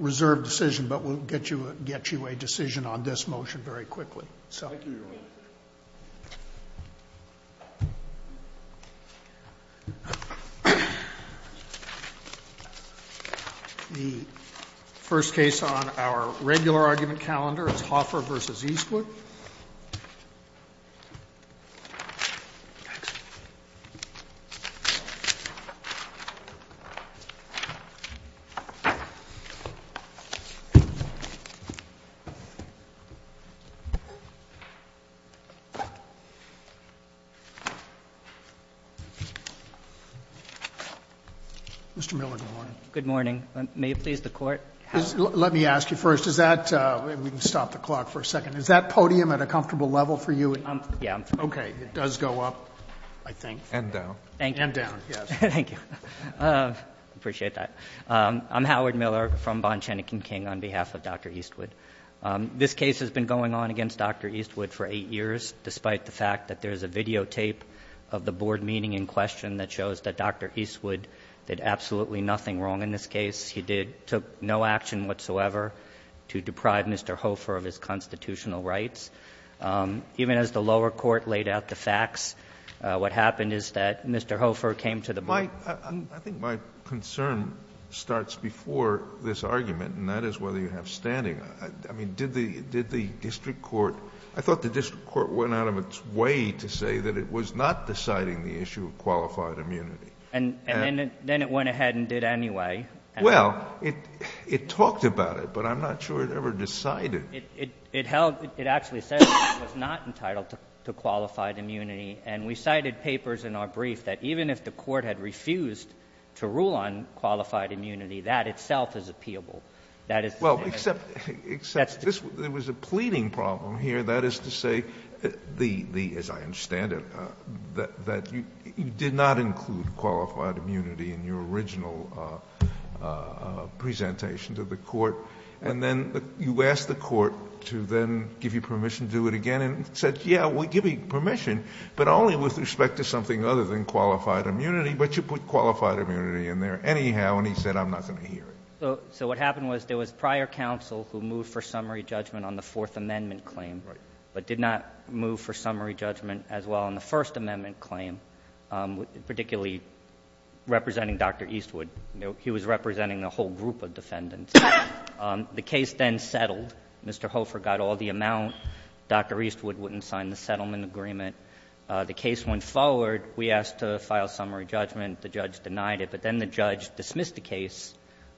Reserved decision, but we'll get you get you a decision on this motion very quickly, so The first case on our regular argument calendar is Hoffer versus Eastwood Mr. Miller, good morning. Good morning. May it please the court? Let me ask you first is that we can stop the clock for a second is that podium at a comfortable level for you? Yeah. Okay, it does go up, I think. And down. Thank you. And down. Yes. Thank you. Appreciate that. I'm Howard Miller from Bond, Chenick and King on behalf of Dr. Eastwood. This case has been going on against Dr. Eastwood for eight years, despite the fact that there is a videotape of the board meeting in question that shows that Dr. Eastwood did absolutely nothing wrong in this case. He did took no action whatsoever to deprive Mr. Hoffer of his What happened is that Mr. Hoffer came to the board. I think my concern starts before this argument, and that is whether you have standing. I mean, did the did the district court I thought the district court went out of its way to say that it was not deciding the issue of qualified immunity. And then it went ahead and did anyway. Well, it talked about it, but I'm not sure it ever decided. It held it actually said it was not entitled to qualified immunity. And we cited papers in our brief that even if the court had refused to rule on qualified immunity, that itself is appealable. That is well, except except this was a pleading problem here. That is to say the the as I understand it, that you did not include qualified immunity in your original presentation to the court. And then you asked the court to then give you permission to do it again and said, Yeah, we'll give you permission, but only with respect to something other than qualified immunity. But you put qualified immunity in there anyhow. And he said, I'm not going to hear it. So what happened was there was prior counsel who moved for summary judgment on the Fourth Amendment claim, but did not move for summary judgment as well on the First Amendment claim, particularly representing Dr. Eastwood, the defendant. The case then settled. Mr. Hofer got all the amount. Dr. Eastwood wouldn't sign the settlement agreement. The case went forward. We asked to file summary judgment. The judge denied it. But then the judge dismissed the case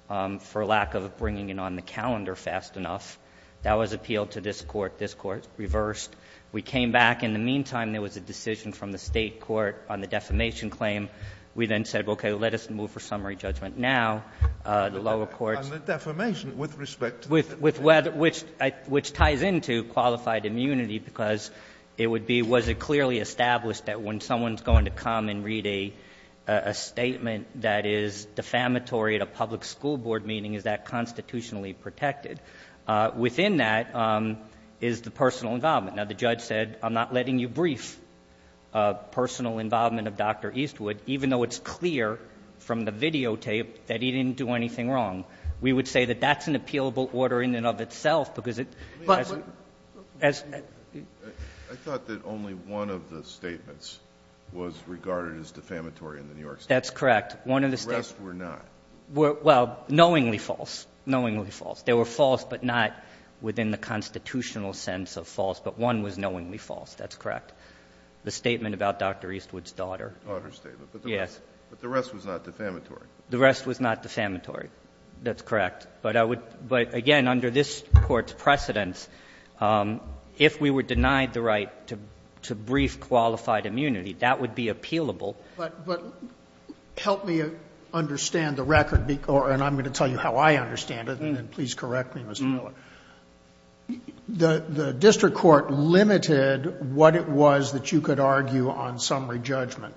for lack of bringing it on the calendar fast enough. That was appealed to this court. This court reversed. We came back. In the meantime, there was a decision from the State court on the defamation claim. We then said, Okay, let us move for summary judgment now. The lower courts. And the defamation with respect to the defendant. Which ties into qualified immunity, because it would be, was it clearly established that when someone's going to come and read a statement that is defamatory at a public school board meeting, is that constitutionally protected? Within that is the personal involvement. Now, the judge said, I'm not letting you brief personal involvement of Dr. Eastwood, even though it's clear from the videotape that he didn't do anything wrong. We would say that that's an appealable order in and of itself, because it, as, as. I thought that only one of the statements was regarded as defamatory in the New York State. That's correct. The rest were not. Well, knowingly false. Knowingly false. They were false, but not within the constitutional sense of false. But one was knowingly false. That's correct. The statement about Dr. Eastwood's daughter. Daughter's statement. Yes. But the rest was not defamatory. The rest was not defamatory. That's correct. But I would, but again, under this Court's precedence, if we were denied the right to, to brief qualified immunity, that would be appealable. But, but help me understand the record, and I'm going to tell you how I understand it, and then please correct me, Mr. Miller. The, the district court limited what it was that you could argue on summary judgment.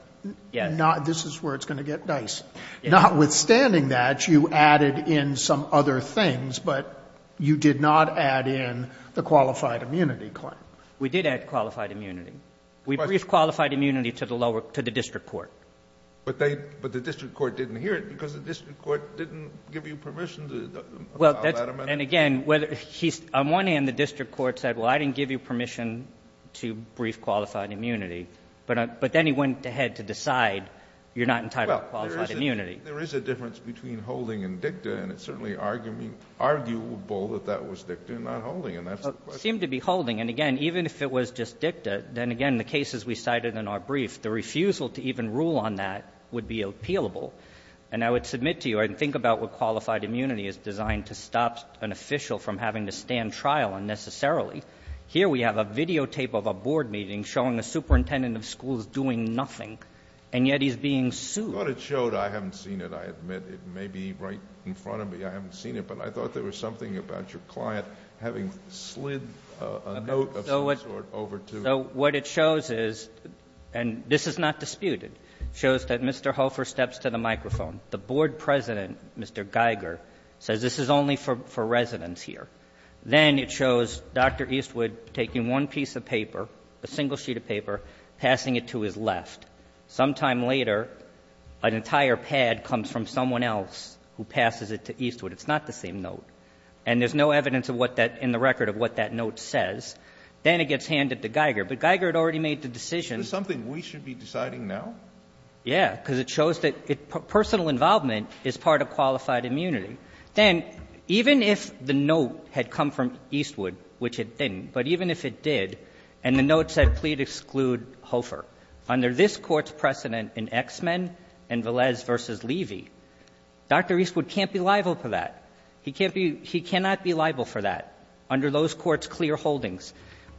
Yes. And not, this is where it's going to get nice. Notwithstanding that, you added in some other things, but you did not add in the qualified immunity claim. We did add qualified immunity. We briefed qualified immunity to the lower, to the district court. But they, but the district court didn't hear it because the district court didn't give you permission to allow that amendment. And again, whether, he's, on one hand the district court said, well, I didn't give you permission to allow that amendment. And on the other hand, the district court went ahead to decide, you're not entitled to qualified immunity. Well, there is a, there is a difference between holding and dicta, and it's certainly argument, arguable that that was dicta and not holding, and that's the question. It seemed to be holding, and again, even if it was just dicta, then again, the cases we cited in our brief, the refusal to even rule on that would be appealable. And I would submit to you, and think about what qualified immunity is designed to stop an official from having to stand trial unnecessarily. Here we have a videotape of a board meeting showing a superintendent of schools doing nothing, and yet he's being sued. I thought it showed, I haven't seen it, I admit it may be right in front of me, I haven't seen it, but I thought there was something about your client having slid a note of some sort over to. So what it shows is, and this is not disputed, shows that Mr. Hofer steps to the microphone. The board president, Mr. Geiger, says this is only for residents here. Then it shows Dr. Eastwood taking one piece of paper, a single sheet of paper, passing it to his left. Sometime later, an entire pad comes from someone else who passes it to Eastwood. It's not the same note. And there's no evidence of what that, in the record of what that note says. Then it gets handed to Geiger. But Geiger had already made the decision. Sotomayor. Is this something we should be deciding now? Yeah, because it shows that personal involvement is part of qualified immunity. Then, even if the note had come from Eastwood, which it didn't, but even if it did, and the note said, Plead exclude Hofer. Under this Court's precedent in X-Men and Velez v. Levy, Dr. Eastwood can't be liable for that. He can't be, he cannot be liable for that. Under those Courts' clear holdings,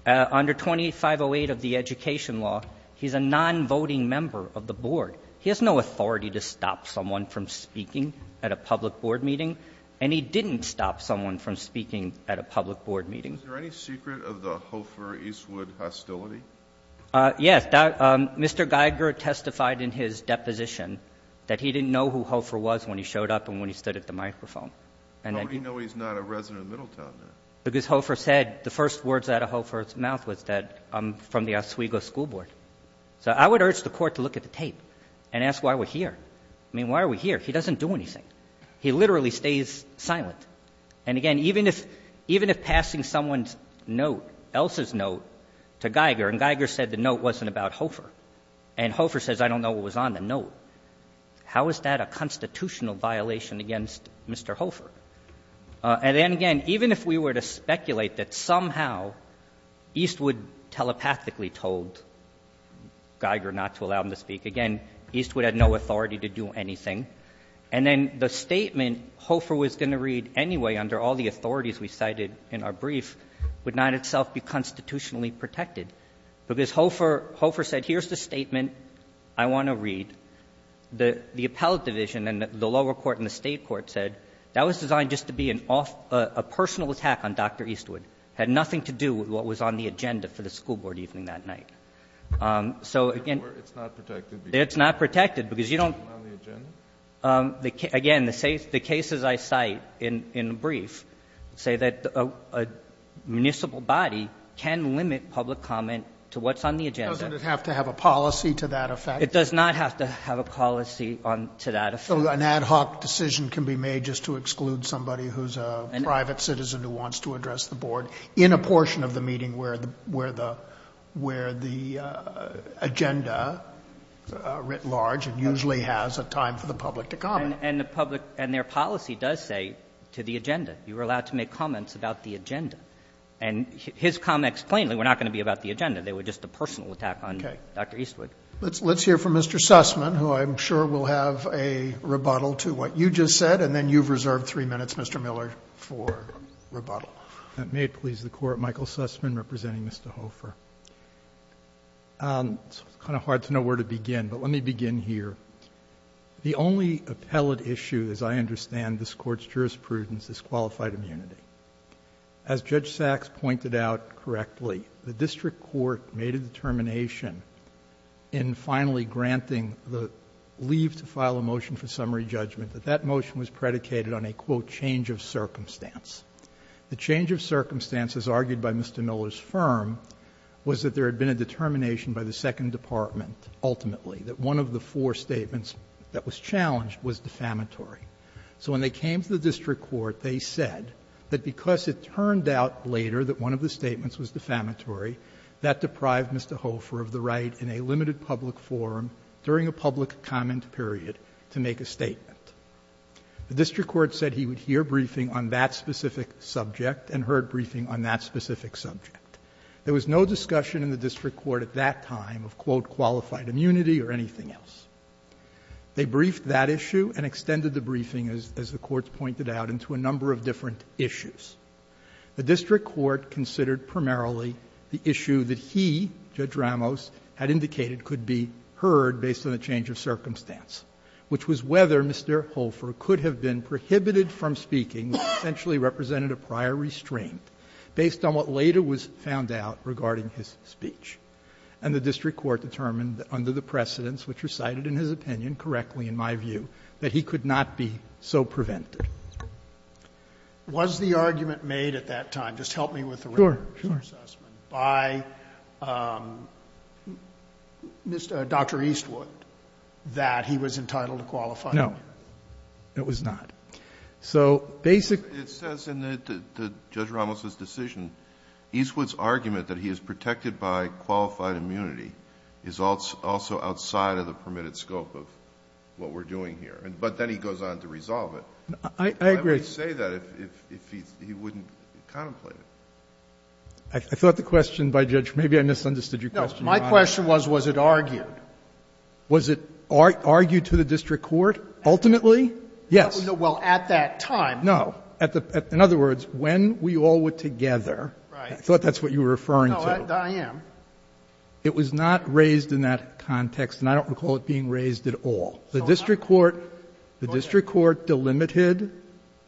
under 2508 of the Education Law, he's a non-voting member of the board. He has no authority to stop someone from speaking at a public board meeting. And he didn't stop someone from speaking at a public board meeting. Is there any secret of the Hofer-Eastwood hostility? Yes. Mr. Geiger testified in his deposition that he didn't know who Hofer was when he showed up and when he stood at the microphone. How would he know he's not a resident of Middletown then? Because Hofer said, the first words out of Hofer's mouth was that I'm from the Oswego School Board. So I would urge the Court to look at the tape and ask why we're here. I mean, why are we here? He doesn't do anything. He literally stays silent. And, again, even if passing someone's note, Elsa's note, to Geiger, and Geiger said the note wasn't about Hofer, and Hofer says I don't know what was on the note, how is that a constitutional violation against Mr. Hofer? And then, again, even if we were to speculate that somehow Eastwood telepathically told Geiger not to allow him to speak, again, Eastwood had no authority to do anything. And then the statement Hofer was going to read anyway, under all the authorities we cited in our brief, would not itself be constitutionally protected. Because Hofer said, here's the statement I want to read. The appellate division and the lower court and the State court said that was designed just to be a personal attack on Dr. Eastwood. It had nothing to do with what was on the agenda for the school board evening that night. So, again, it's not protected because you don't. Again, the cases I cite in the brief say that a municipal body can limit public comment to what's on the agenda. Doesn't it have to have a policy to that effect? It does not have to have a policy to that effect. So an ad hoc decision can be made just to exclude somebody who's a private citizen who wants to address the board in a portion of the meeting where the agenda, writ large, usually has a time for the public to comment. And the public, and their policy does say, to the agenda. You are allowed to make comments about the agenda. And his comments plainly were not going to be about the agenda. They were just a personal attack on Dr. Eastwood. Let's hear from Mr. Sussman, who I'm sure will have a rebuttal to what you just said, and then you've reserved three minutes, Mr. Miller, for rebuttal. May it please the Court, Michael Sussman representing Mr. Hofer. It's kind of hard to know where to begin, but let me begin here. The only appellate issue, as I understand this Court's jurisprudence, is qualified immunity. As Judge Sachs pointed out correctly, the district court made a determination in finally granting the leave to file a motion for summary judgment that that motion was predicated on a, quote, change of circumstance. The change of circumstances argued by Mr. Miller's firm was that there had been a determination by the Second Department, ultimately, that one of the four statements that was challenged was defamatory. So when they came to the district court, they said that because it turned out later that one of the statements was defamatory, that deprived Mr. Hofer of the right in a limited public forum during a public comment period to make a statement. The district court said he would hear briefing on that specific subject and heard briefing on that specific subject. There was no discussion in the district court at that time of, quote, qualified immunity or anything else. They briefed that issue and extended the briefing, as the Court's pointed out, into a number of different issues. The district court considered primarily the issue that he, Judge Ramos, had indicated could be heard based on a change of circumstance, which was whether Mr. Hofer could have been prohibited from speaking, which essentially represented a prior restraint, based on what later was found out regarding his speech. And the district court determined under the precedents, which were cited in his opinion correctly, in my view, that he could not be so prevented. Sotomayor. Was the argument made at that time, just help me with the record, by Dr. Eastwood, that he was entitled to qualified immunity? No. It was not. So basically ---- It says in Judge Ramos's decision, Eastwood's argument that he is protected by qualified immunity is also outside of the permitted scope of what we're doing here, but then he goes on to resolve it. I agree. Why would he say that if he wouldn't contemplate it? I thought the question by Judge ---- maybe I misunderstood your question, Your Honor. My question was, was it argued? Was it argued to the district court ultimately? Yes. Well, at that time. No. In other words, when we all were together ---- Right. I thought that's what you were referring to. No, I am. It was not raised in that context, and I don't recall it being raised at all. The district court ---- Go ahead. The district court delimited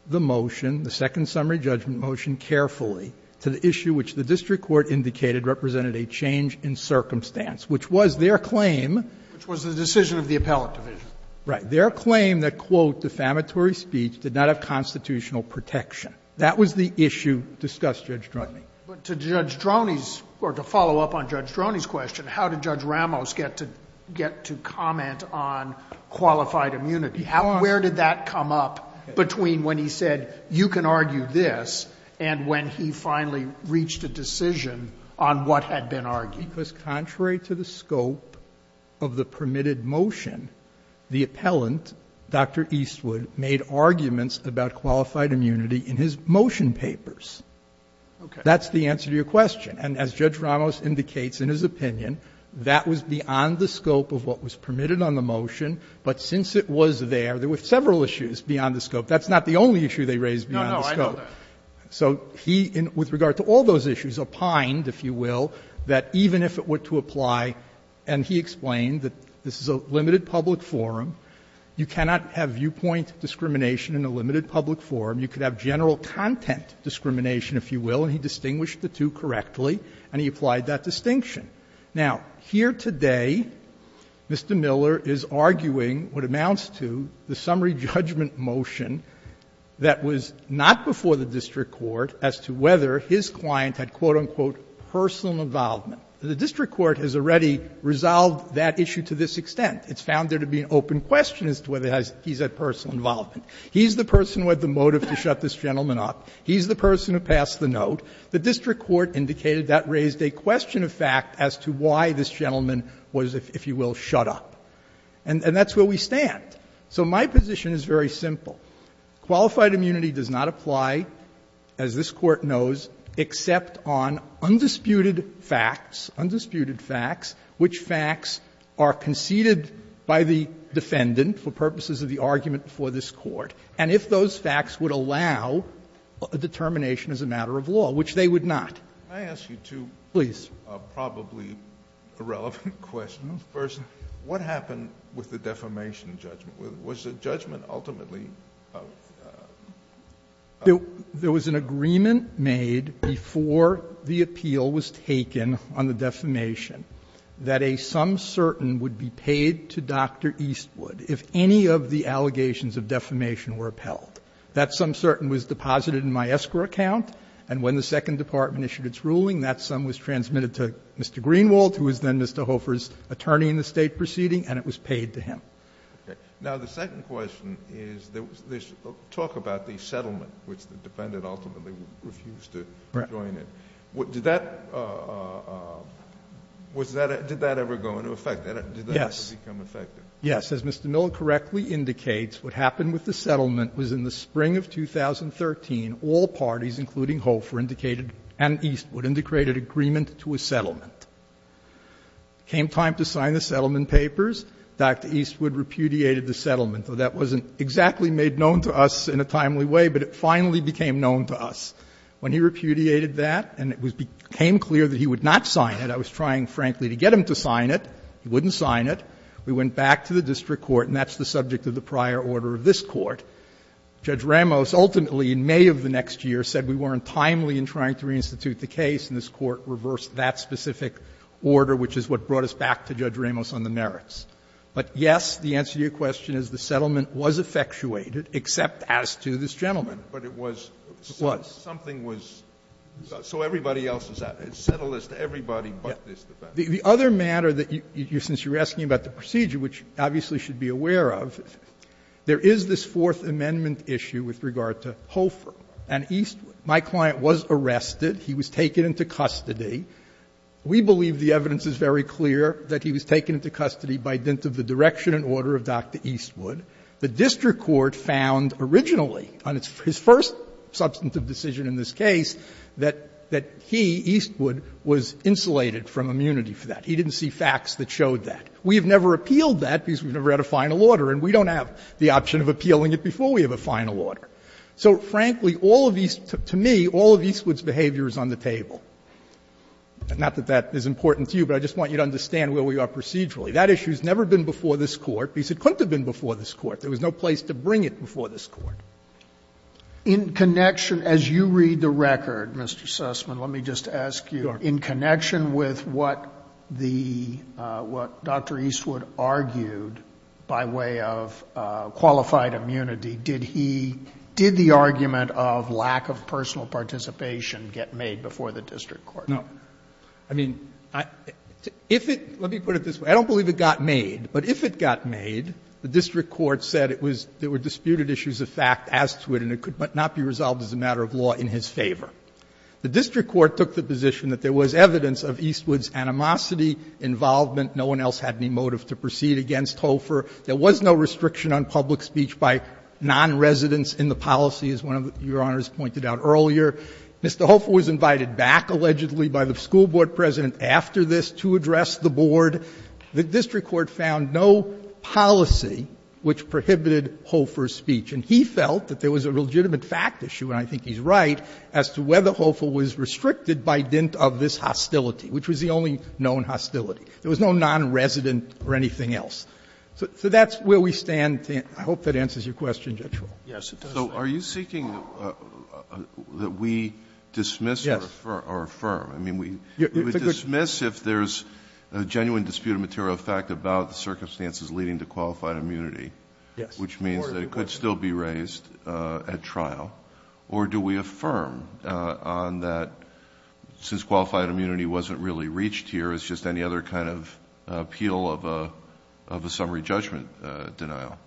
the motion, the second summary judgment motion, carefully to the issue which the district court indicated represented a change in circumstance, which was their claim ---- Which was the decision of the appellate division. Right. Their claim that, quote, defamatory speech did not have constitutional protection. That was the issue discussed, Judge Droney. But to Judge Droney's ---- or to follow up on Judge Droney's question, how did Judge Ramos get to comment on qualified immunity? How did he finally reach a decision on what had been argued? Because contrary to the scope of the permitted motion, the appellant, Dr. Eastwood, made arguments about qualified immunity in his motion papers. Okay. That's the answer to your question. And as Judge Ramos indicates in his opinion, that was beyond the scope of what was permitted on the motion, but since it was there, there were several issues beyond the scope. That's not the only issue they raised beyond the scope. No, no. I know that. So he, with regard to all those issues, opined, if you will, that even if it were to apply, and he explained that this is a limited public forum. You cannot have viewpoint discrimination in a limited public forum. You could have general content discrimination, if you will. And he distinguished the two correctly, and he applied that distinction. Now, here today, Mr. Miller is arguing what amounts to the summary judgment motion that was not before the district court as to whether his client had, quote, unquote, personal involvement. The district court has already resolved that issue to this extent. It's found there to be an open question as to whether he's had personal involvement. He's the person who had the motive to shut this gentleman up. He's the person who passed the note. The district court indicated that raised a question of fact as to why this gentleman And that's where we stand. So my position is very simple. Qualified immunity does not apply, as this Court knows, except on undisputed facts, undisputed facts, which facts are conceded by the defendant for purposes of the argument before this Court, and if those facts would allow a determination as a matter of law, which they would not. Please. I'm going to ask you two probably irrelevant questions. First, what happened with the defamation judgment? Was the judgment ultimately of? There was an agreement made before the appeal was taken on the defamation that a sum certain would be paid to Dr. Eastwood if any of the allegations of defamation were upheld. That sum certain was deposited in my escrow account, and when the Second Department issued its ruling, that sum was transmitted to Mr. Greenwald, who was then Mr. Hofer's attorney in the State proceeding, and it was paid to him. Okay. Now, the second question is there's talk about the settlement, which the defendant ultimately refused to join it. Right. Did that ever go into effect? Yes. Did that ever become effective? Yes. As Mr. Miller correctly indicates, what happened with the settlement was in the spring of 2013, all parties, including Hofer indicated and Eastwood, indicated agreement to a settlement. It came time to sign the settlement papers. Dr. Eastwood repudiated the settlement. That wasn't exactly made known to us in a timely way, but it finally became known to us. When he repudiated that and it became clear that he would not sign it, I was trying frankly to get him to sign it. He wouldn't sign it. We went back to the district court, and that's the subject of the prior order of this court. Judge Ramos ultimately, in May of the next year, said we weren't timely in trying to reinstitute the case, and this Court reversed that specific order, which is what brought us back to Judge Ramos on the merits. But yes, the answer to your question is the settlement was effectuated, except as to this gentleman. But it was. It was. Something was. So everybody else is out. It's settled as to everybody but this defendant. The other matter that you, since you're asking about the procedure, which obviously should be aware of, there is this Fourth Amendment issue with regard to Hofer and Eastwood. My client was arrested. He was taken into custody. We believe the evidence is very clear that he was taken into custody by dint of the direction and order of Dr. Eastwood. The district court found originally on his first substantive decision in this case that he, Eastwood, was insulated from immunity for that. He didn't see facts that showed that. We have never appealed that because we've never had a final order, and we don't have the option of appealing it before we have a final order. So, frankly, all of Eastwood's, to me, all of Eastwood's behavior is on the table. Not that that is important to you, but I just want you to understand where we are procedurally. That issue has never been before this Court, because it couldn't have been before this Court. There was no place to bring it before this Court. Sotomayor, as you read the record, Mr. Sussman, let me just ask you, in connection with what the, what Dr. Eastwood argued by way of qualified immunity, did he, did the argument of lack of personal participation get made before the district court? No. I mean, if it, let me put it this way, I don't believe it got made, but if it got made, the district court said it was, there were disputed issues of fact as to it, and it could not be resolved as a matter of law in his favor. The district court took the position that there was evidence of Eastwood's animosity, involvement, no one else had any motive to proceed against Hofer. There was no restriction on public speech by non-residents in the policy, as one of your Honors pointed out earlier. Mr. Hofer was invited back, allegedly, by the school board president after this to address the board. The district court found no policy which prohibited Hofer's speech. And he felt that there was a legitimate fact issue, and I think he's right, as to whether Hofer was restricted by dint of this hostility, which was the only known hostility. There was no non-resident or anything else. So that's where we stand. I hope that answers your question, Judge Roehl. Yes, it does. So are you seeking that we dismiss or affirm? Yes. I mean, we would dismiss if there's a genuine disputed material of fact about the circumstances leading to qualified immunity. Which means that it could still be raised at trial. Or do we affirm on that, since qualified immunity wasn't really reached here, it's just any other kind of appeal of a summary judgment denial?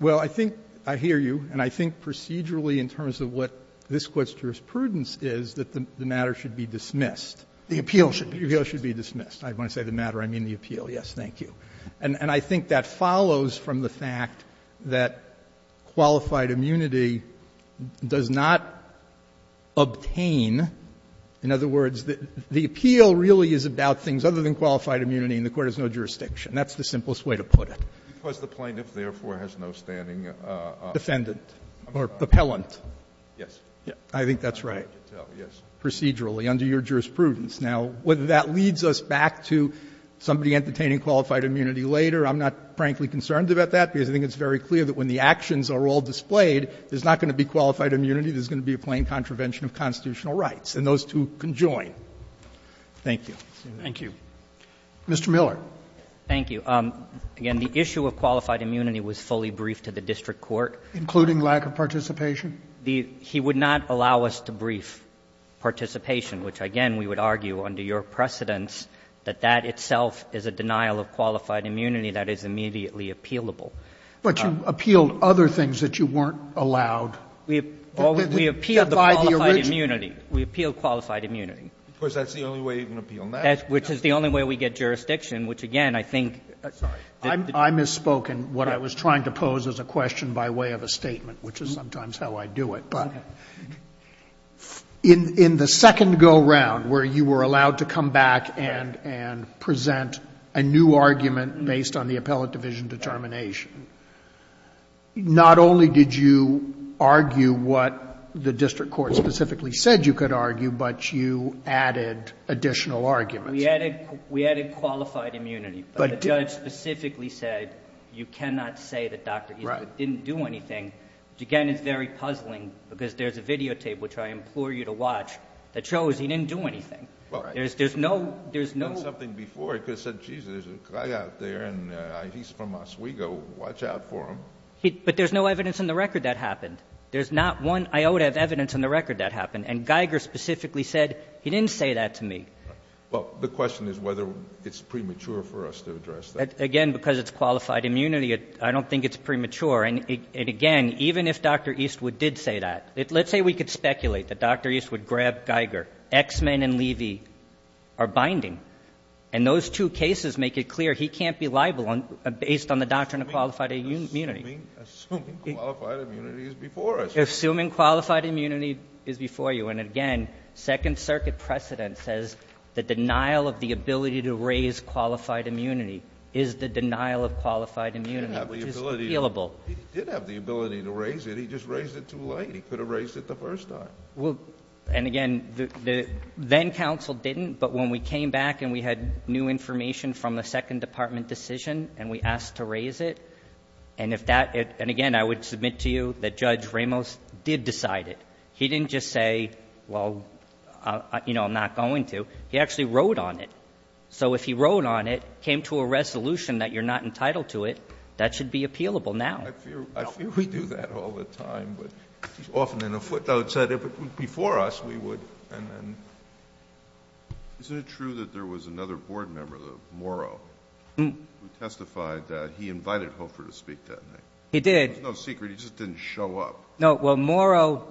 Well, I think I hear you, and I think procedurally in terms of what this question of prudence is, that the matter should be dismissed. The appeal should be dismissed. The appeal should be dismissed. When I say the matter, I mean the appeal. Yes, thank you. And I think that follows from the fact that qualified immunity does not obtain — in other words, the appeal really is about things other than qualified immunity and the Court has no jurisdiction. That's the simplest way to put it. Because the plaintiff, therefore, has no standing. Defendant or appellant. Yes. I think that's right. Yes. Procedurally, under your jurisprudence. Now, whether that leads us back to somebody entertaining qualified immunity later, I'm not frankly concerned about that, because I think it's very clear that when the actions are all displayed, there's not going to be qualified immunity. There's going to be a plain contravention of constitutional rights. And those two conjoin. Thank you. Thank you. Mr. Miller. Thank you. Again, the issue of qualified immunity was fully briefed to the district court. Including lack of participation? He would not allow us to brief participation, which, again, we would argue under your precedence that that itself is a denial of qualified immunity that is immediately appealable. But you appealed other things that you weren't allowed. We appealed the qualified immunity. We appealed qualified immunity. Of course, that's the only way you can appeal. Which is the only way we get jurisdiction, which, again, I think. Sorry. I misspoke in what I was trying to pose as a question by way of a statement, which is sometimes how I do it. But in the second go-round where you were allowed to come back and present a new argument based on the appellate division determination, not only did you argue what the district court specifically said you could argue, but you added additional arguments. We added qualified immunity. But the judge specifically said you cannot say that Dr. Eastwood didn't do anything which, again, is very puzzling because there's a videotape, which I implore you to watch, that shows he didn't do anything. There's no... He could have done something before. He could have said, geez, there's a guy out there and he's from Oswego. Watch out for him. But there's no evidence in the record that happened. There's not one iota of evidence in the record that happened. And Geiger specifically said he didn't say that to me. Well, the question is whether it's premature for us to address that. Again, because it's qualified immunity, I don't think it's premature. And, again, even if Dr. Eastwood did say that, let's say we could speculate that Dr. Eastwood grabbed Geiger. X-Men and Levy are binding. And those two cases make it clear he can't be liable based on the doctrine of qualified immunity. Assuming qualified immunity is before us. Assuming qualified immunity is before you. And, again, Second Circuit precedent says the denial of the ability to raise qualified immunity is the denial of qualified immunity. It's just feelable. He did have the ability to raise it. He just raised it too late. He could have raised it the first time. And, again, then counsel didn't. But when we came back and we had new information from the second department decision and we asked to raise it, and, again, I would submit to you that Judge Ramos did decide it. He didn't just say, well, you know, I'm not going to. He actually wrote on it. So if he wrote on it, came to a resolution that you're not entitled to it, that should be appealable now. I fear we do that all the time. But often in a footnote said if it was before us, we would. And then. Isn't it true that there was another board member, Morrow, who testified that he invited Hofer to speak that night? He did. There's no secret. He just didn't show up. No. Well, Morrow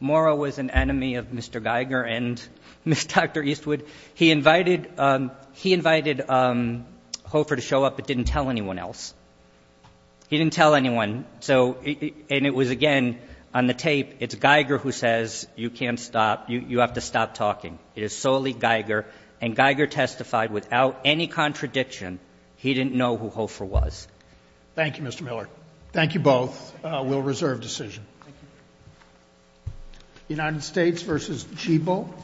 was an enemy of Mr. Geiger and Dr. Eastwood. He invited Hofer to show up but didn't tell anyone else. He didn't tell anyone. So, and it was, again, on the tape, it's Geiger who says you can't stop. You have to stop talking. It is solely Geiger. And Geiger testified without any contradiction he didn't know who Hofer was. Thank you, Mr. Miller. Thank you both. We'll reserve decision. Thank you. United States versus Chibol. Thank you.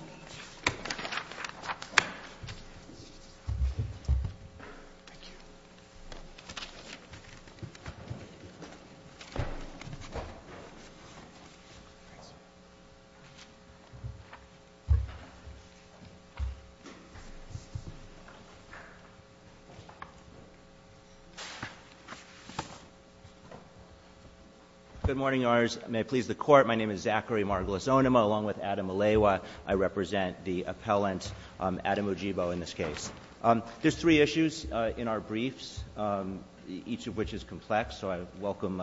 Good morning, Your Honors. May it please the Court. My name is Zachary Margolisonema along with Adam Malewa. I represent the appellant, Adam Ojibwa, in this case. There's three issues in our briefs, each of which is complex. So I welcome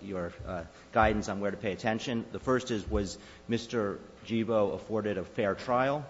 your guidance on where to pay attention. The first is, was Mr. Ojibwa afforded a fair trial?